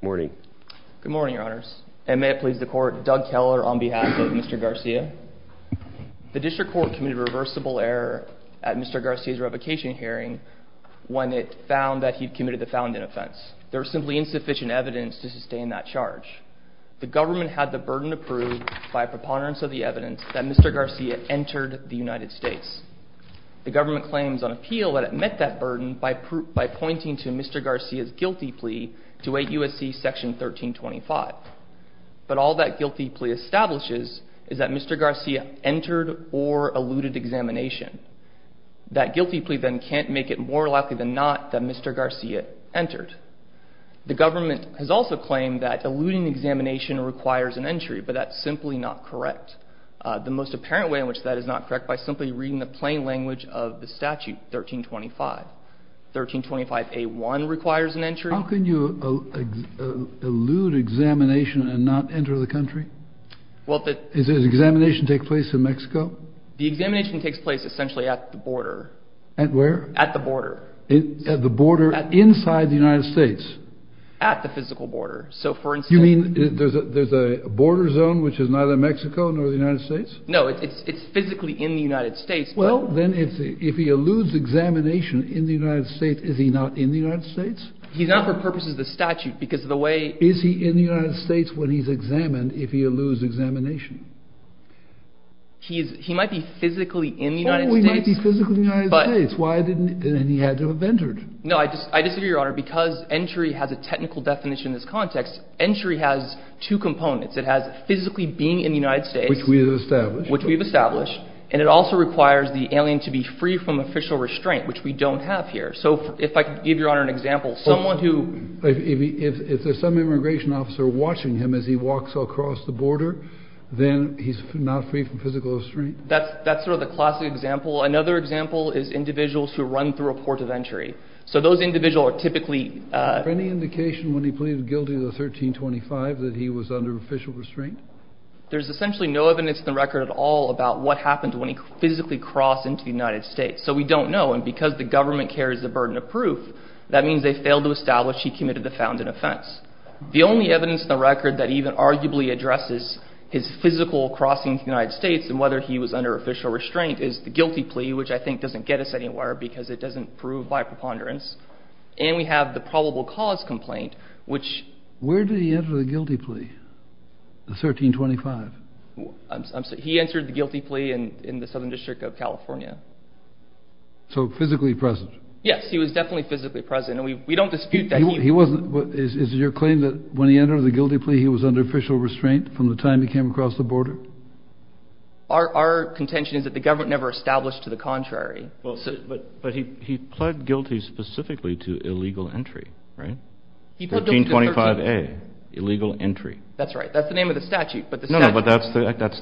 morning good morning your honors and may it please the court Doug Keller on behalf of Mr. Garcia the district court committed reversible error at Mr. Garcia's revocation hearing when it found that he committed the founding offense there's simply insufficient evidence to sustain that charge the government had the burden to prove by preponderance of the evidence that Mr. Garcia's guilty plea to 8 U.S.C. section 1325 but all that guilty plea establishes is that Mr. Garcia entered or eluded examination that guilty plea then can't make it more likely than not that Mr. Garcia entered the government has also claimed that eluding examination requires an entry but that's simply not correct the most apparent way in which that is not correct by simply looking at the statute 1325 1325 a1 requires an entry how can you elude examination and not enter the country well that is examination take place in Mexico the examination takes place essentially at the border and where at the border at the border inside the United States at the physical border so for instance you mean there's a there's a border zone which is neither Mexico nor the United States no it's it's physically in the United States well then if if he eludes examination in the United States is he not in the United States he's not for purposes the statute because of the way is he in the United States when he's examined if he eludes examination he's he might be physically in the United States but it's why didn't he had to have entered no I just I disagree your honor because entry has a technical definition this context entry has two components it has physically being in the United States which we have established and it also requires the alien to be free from official restraint which we don't have here so if I could give your honor an example someone who if there's some immigration officer watching him as he walks across the border then he's not free from physical restraint that's that's sort of a classic example another example is individuals who run through a port of entry so those individual are typically any indication when he pleaded guilty to the 1325 that he was under official restraint there's essentially no evidence in the record at all about what happened when he physically crossed into the United States so we don't know and because the government carries the burden of proof that means they failed to establish he committed the found an offense the only evidence in the record that even arguably addresses his physical crossing the United States and whether he was under official restraint is the guilty plea which I think doesn't get us anywhere because it doesn't prove by preponderance and we have the probable cause complaint Where did he enter the guilty plea? The 1325? He entered the guilty plea in the Southern District of California So physically present? Yes he was definitely physically present and we don't dispute that he... Is it your claim that when he entered the guilty plea he was under official restraint from the time he came across the border? Our contention is that the government never established to the contrary But he pled guilty specifically to illegal entry, right? 1325A, illegal entry. That's right, that's the name of the statute No, no, but that's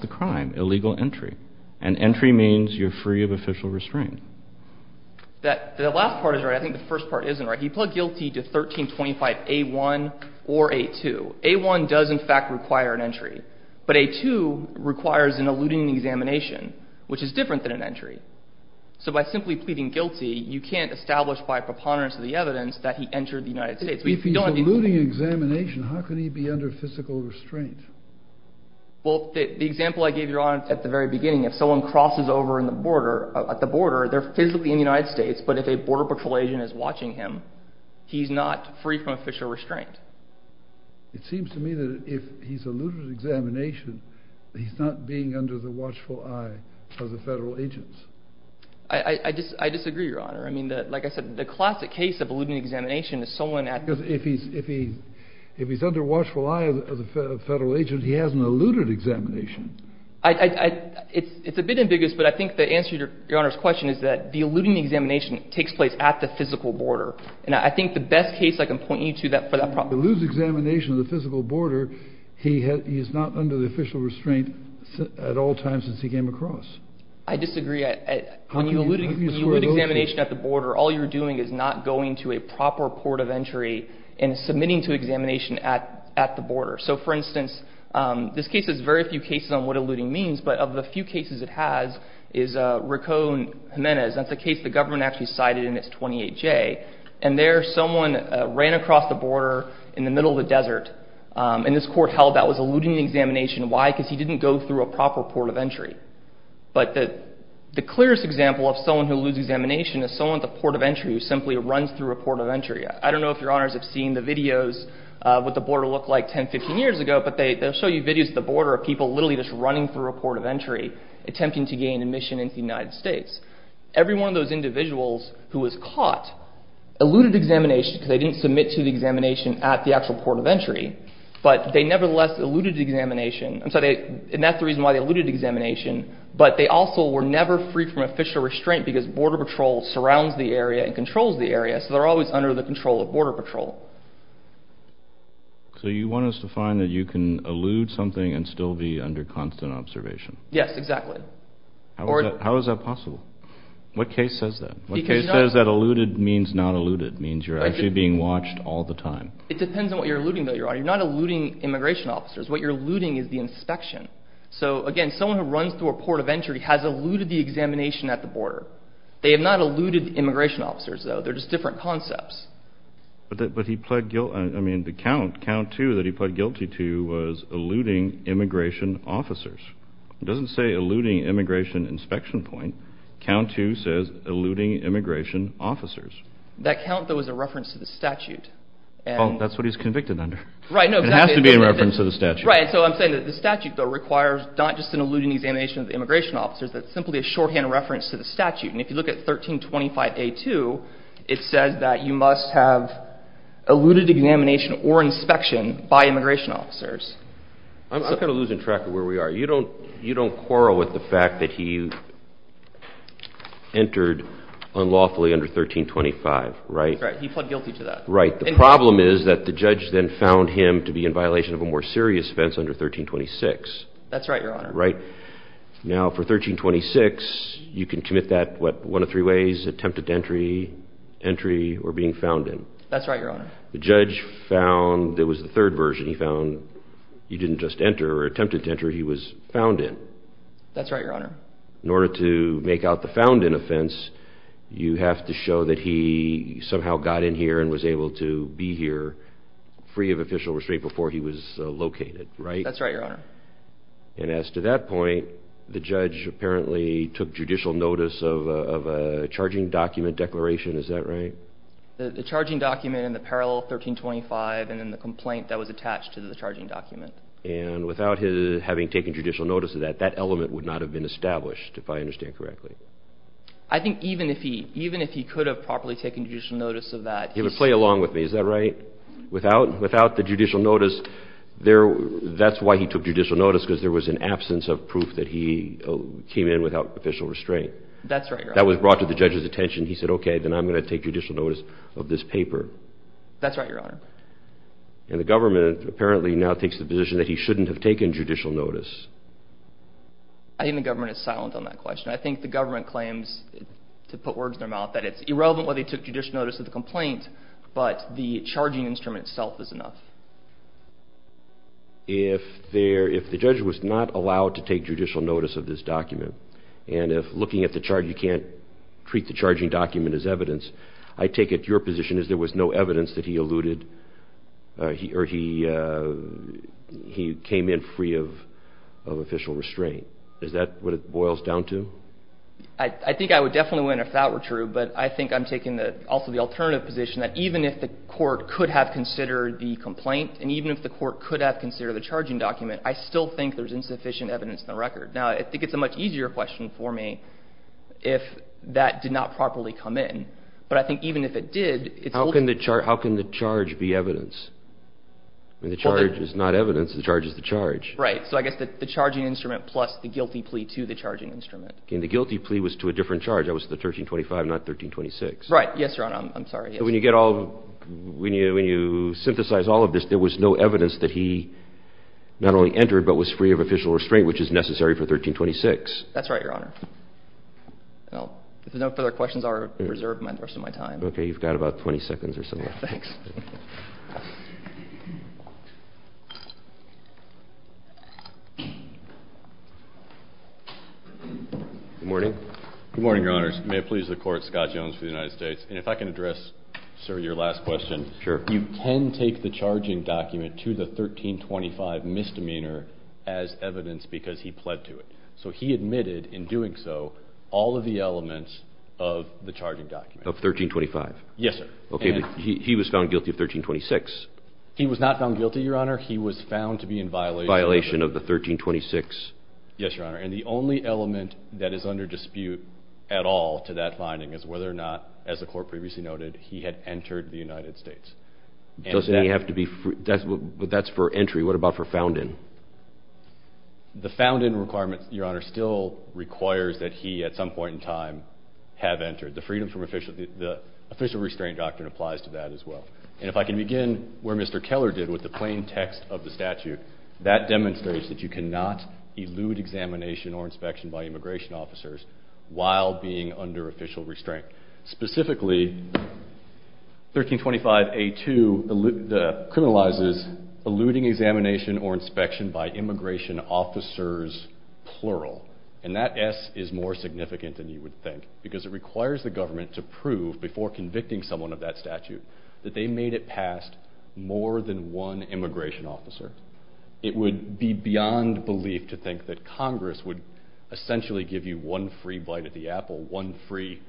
the crime, illegal entry and entry means you're free of official restraint The last part is right, I think the first part isn't right. He pled guilty to 1325A1 or A2. A1 does in fact require an entry but A2 requires an eluding examination which is different than an entry so by simply pleading guilty you can't establish by preponderance of the evidence that he entered the United States. If he's eluding examination, how can he be under physical restraint? Well, the example I gave your honor at the very beginning, if someone crosses over at the border, they're physically in the United States, but if a border patrol agent is watching him, he's not free from official restraint. It seems to me that if he's eluded examination, he's not being under the watchful eye of the federal agents. I disagree your honor I mean, like I said, the classic case of eluding examination is someone at If he's under watchful eye of the federal agent, he hasn't eluded examination. It's a bit ambiguous, but I think the answer to your honor's question is that the eluding examination takes place at the physical border. And I think the best case I can point you to for that problem If he eludes examination at the physical border, he's not under the official restraint at all times since he came across. I disagree When you elude examination at the border, all you're doing is not going to a proper port of entry and submitting to examination at the border. So, for instance, this case has very few cases on what eluding means, but of the few cases it has is Racon Jimenez That's a case the government actually cited in its 28-J. And there someone ran across the border in the middle of the desert and this court held that was eluding examination. Why? Because he didn't go through a proper port of entry But the clearest example of someone who eludes examination is someone at the port of entry who simply runs through a port of entry. I don't know if your honors have seen the videos of what the border looked like 10-15 years ago, but they'll show you videos at the border of people literally just running through a port of entry, attempting to gain admission into the United States. Every one of those individuals who was caught eluded examination because they didn't submit to the examination at the actual port of entry, but they nevertheless eluded examination And that's the reason why they eluded examination, but they also were never free from official restraint because border patrol surrounds the area and controls the area so they're always under the control of border patrol So you want us to find that you can elude something and still be under constant observation? Yes, exactly. How is that possible? What case says that? What case says that eluded means not eluded? Means you're actually being watched all the time? It depends on what you're eluding though, your honor. You're not eluding immigration officers, what you're eluding is the inspection. So again, someone who runs through a port of entry has eluded the examination at the border. They have not eluded immigration officers though, they're just different concepts. But he pled guilty, I mean the count, count 2 that he pled guilty to was eluding immigration officers. It doesn't say eluding immigration inspection point, count 2 says eluding immigration officers. That count though is a reference to the statute. Well, that's what he's convicted under. It has to be a reference to the statute. Right, so I'm saying that the statute though requires not just an eluding examination of the immigration officers, that's simply a shorthand reference to the statute. And if you look at 1325A2 it says that you must have eluded examination or inspection by immigration officers. I'm kind of losing track of where we are. You don't quarrel with the fact that he entered unlawfully under 1325, right? That's right, he pled guilty to that. Right, the problem is that the judge then found him to be in violation of a more serious offense under 1326. That's right, Your Honor. Now for 1326, you can commit that, what, one of three ways? Attempted entry, entry, or being found in. That's right, Your Honor. The judge found, it was the third version, he found he didn't just enter or attempted to enter, he was found in. That's right, Your Honor. In order to make out the found in offense, you have to show that he somehow got in here and was able to be here free of official restraint before he was located, right? That's right, Your Honor. And as to that point, the judge apparently took judicial notice of a charging document declaration, is that right? The charging document and the parallel 1325 and then the complaint that was attached to the charging document. And without his having taken judicial notice of that, that element would not have been established, if I understand correctly. I think even if he could have properly taken judicial notice of that... He would play along with me, is that right? Without the judicial notice, that's why he took judicial notice, because there was an absence of proof that he came in without official restraint. That's right, Your Honor. That was brought to the judge's attention. He said, okay, then I'm going to take judicial notice of this paper. That's right, Your Honor. And the government apparently now takes the position that he shouldn't have taken judicial notice. I think the government is silent on that question. I think the government claims, to put words in their mouth, that it's irrelevant whether he took judicial notice of the complaint, but the charging instrument itself is enough. If the judge was not allowed to take judicial notice of this document, and if looking at the charge you can't treat the charging document as evidence, I take it your position is there was no evidence that he alluded, or he came in free of official restraint. Is that what it boils down to? I think I would definitely win if that were true, but I think I'm taking also the alternative position that even if the court could have considered the complaint, and even if the court could have considered the charging document, I still think there's insufficient evidence in the record. Now, I think it's a much easier question for me if that did not properly come in, but I think even if it did... How can the charge be evidence? The charge is not evidence. The charge is the charge. Right. So I guess the charging instrument plus the guilty plea to the charging instrument. And the guilty plea was to a different charge. That was the 1325, not 1326. Right. Yes, Your Honor. I'm sorry. When you synthesize all of this, there was no evidence that he not only entered, but was free of official restraint, which is necessary for 1326. That's right, Your Honor. If there's no further questions, I'll reserve the rest of my time. Okay. You've got about 20 seconds or so left. Thanks. Good morning. Good morning, Your Honors. May it please the Court, Scott Jones for the United States. And if I can address, sir, your last question. Sure. You can take the charging document to the 1325 misdemeanor as evidence because he pled to it. So he admitted in doing so all of the elements of the charging document. Of 1325? Yes, sir. He was found guilty of 1326. He was not found guilty, Your Honor. He was found to be in violation of the 1326. Yes, Your Honor. And the only element that is under dispute at all to that finding is whether or not, as the Court previously noted, he had entered the United States. But that's for entry. What about for found in? The found in requirement, Your Honor, still requires that he, at some point in time, have entered. The official restraint doctrine applies to that as well. And if I can begin where Mr. Keller did with the plain text of the statute, that demonstrates that you cannot elude examination or inspection by immigration officers while being under official restraint. Specifically, 1325A2 criminalizes eluding examination or inspection by immigration officers plural. And that S is more significant than you would think because it requires the government to prove, before convicting someone of that statute, that they made it past more than one immigration officer. It would be beyond belief to think that Congress would essentially give you one free bite at the apple, one free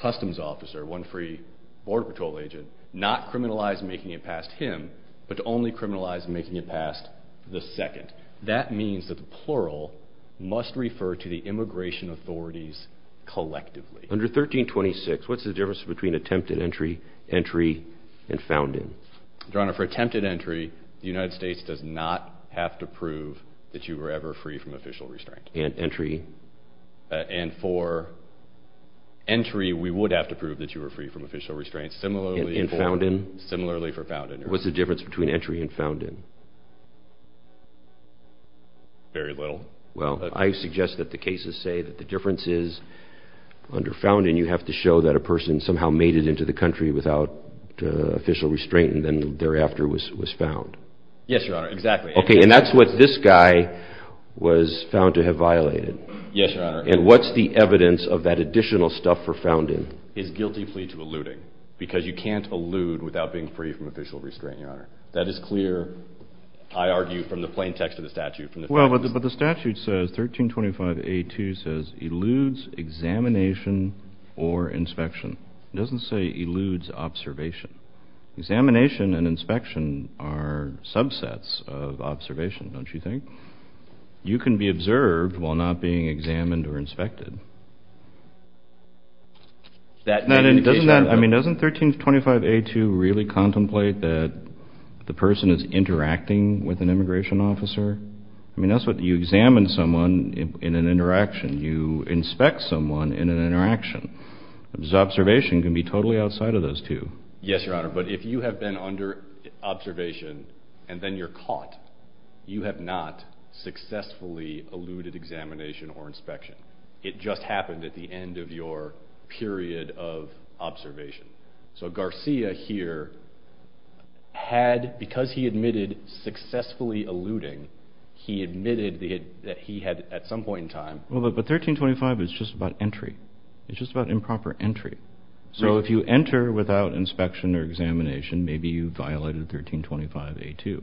customs officer, one free border patrol agent, not criminalize making it past him, but only criminalize making it past the second. In fact, that means that the plural must refer to the immigration authorities collectively. Under 1326, what's the difference between attempted entry, entry, and found in? Your Honor, for attempted entry, the United States does not have to prove that you were ever free from official restraint. And entry? And for entry, we would have to prove that you were free from official restraint. Similarly for found in. What's the difference between entry and found in? Very little. Well, I suggest that the cases say that the difference is under found in, you have to show that a person somehow made it into the country without official restraint and then thereafter was found. Yes, Your Honor, exactly. Okay, and that's what this guy was found to have violated. Yes, Your Honor. And what's the evidence of that additional stuff for found in? His guilty plea to eluding. Because you can't elude without being free from official restraint, Your Honor. That is clear, I argue, from the plain text of the statute. Well, but the statute says, 1325A2 says, eludes examination or inspection. It doesn't say eludes observation. Examination and inspection are subsets of observation, don't you think? You can be observed while not being examined or inspected. I mean, doesn't 1325A2 really contemplate that the person is interacting with an immigration officer? I mean, that's what you examine someone in an interaction. You inspect someone in an interaction. Observation can be totally outside of those two. Yes, Your Honor, but if you have been under observation and then you're caught, you have not successfully eluded examination or inspection. It just happened at the end of your period of observation. So Garcia here had, because he admitted successfully eluding, he admitted that he had at some point in time... Well, but 1325 is just about entry. It's just about improper entry. So if you enter without inspection or examination, maybe you violated 1325A2.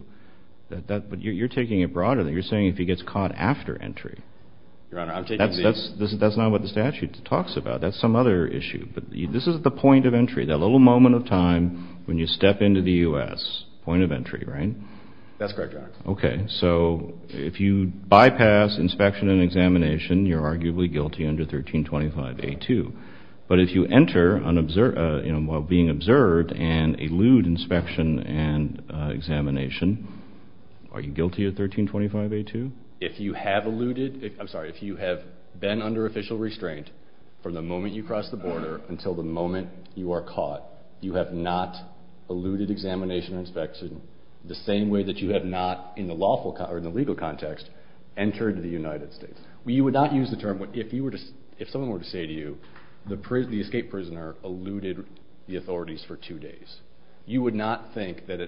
But you're taking it broader than that. You're saying if he gets caught after entry... Your Honor, I'm taking the... That's not what the statute talks about. That's some other issue. But this is the point of entry, that little moment of time when you step into the U.S. Point of entry, right? That's correct, Your Honor. So if you bypass inspection and examination, you're arguably guilty under 1325A2. But if you enter while being observed and elude inspection and examination, are you guilty of 1325A2? If you have eluded... I'm sorry, if you have been under official restraint from the moment you cross the border until the moment you are caught, you have not eluded examination and inspection the same way that you have not, in the legal context, entered the United States. You would not use the term... If someone were to say to you the escape prisoner eluded the authorities for two days, you would not think that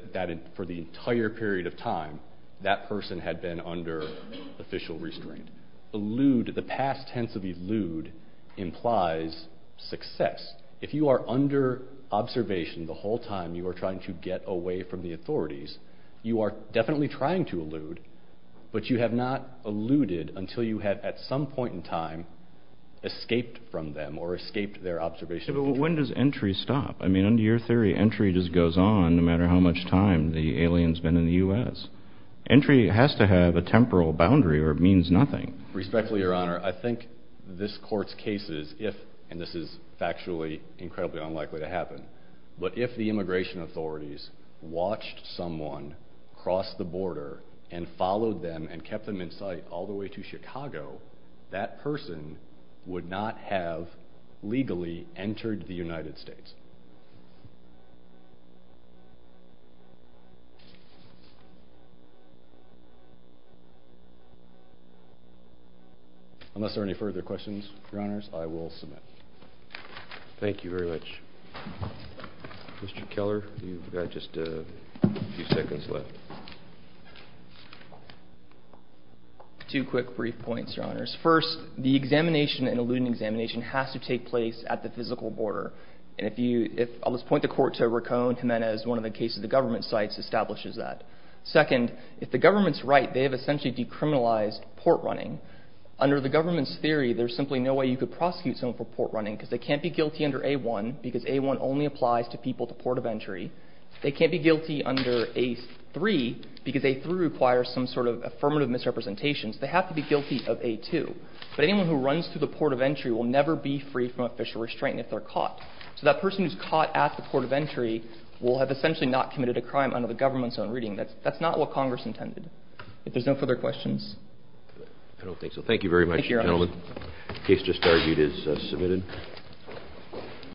for the entire period of time that person had been under official restraint. Elude, the past tense of elude, implies success. If you are under observation the whole time you are trying to get away from the authorities, you are definitely trying to elude, but you have not eluded until you have, at some point in time, escaped from them or escaped their observation. But when does entry stop? I mean, under your theory, entry just goes on no matter how much time the alien's been in the U.S. Entry has to have a temporal boundary or it means nothing. Respectfully, your honor, I think this court's cases, if, and this is factually incredibly unlikely to happen, but if the immigration authorities watched someone cross the border and followed them and kept them in sight all the way to Chicago, that person would not have legally entered the United States. Unless there are any further questions, your honors, I will submit. Thank you very much. Mr. Keller, you've got just a few seconds left. Two quick brief points, your honors. First, the examination, an eluded examination has to take place at the physical border. And if you, if, I'll just point the court to Racco and Jimenez, one of the cases the government cites establishes that. Second, if the government's right, they have essentially decriminalized port running. Under the government's theory, there's simply no way you could prosecute someone for port running because they can't be guilty under A-1 because A-1 only applies to people at the port of entry. They can't be guilty under A-3 because A-3 requires some sort of affirmative misrepresentation. So they have to be guilty of A-2. But anyone who runs through the port of entry will never be free from official restraint if they're caught. So that person who's caught at the port of entry will have essentially not the government's own reading. That's not what Congress intended. If there's no further questions... I don't think so. Thank you very much, gentlemen. The case just argued is submitted.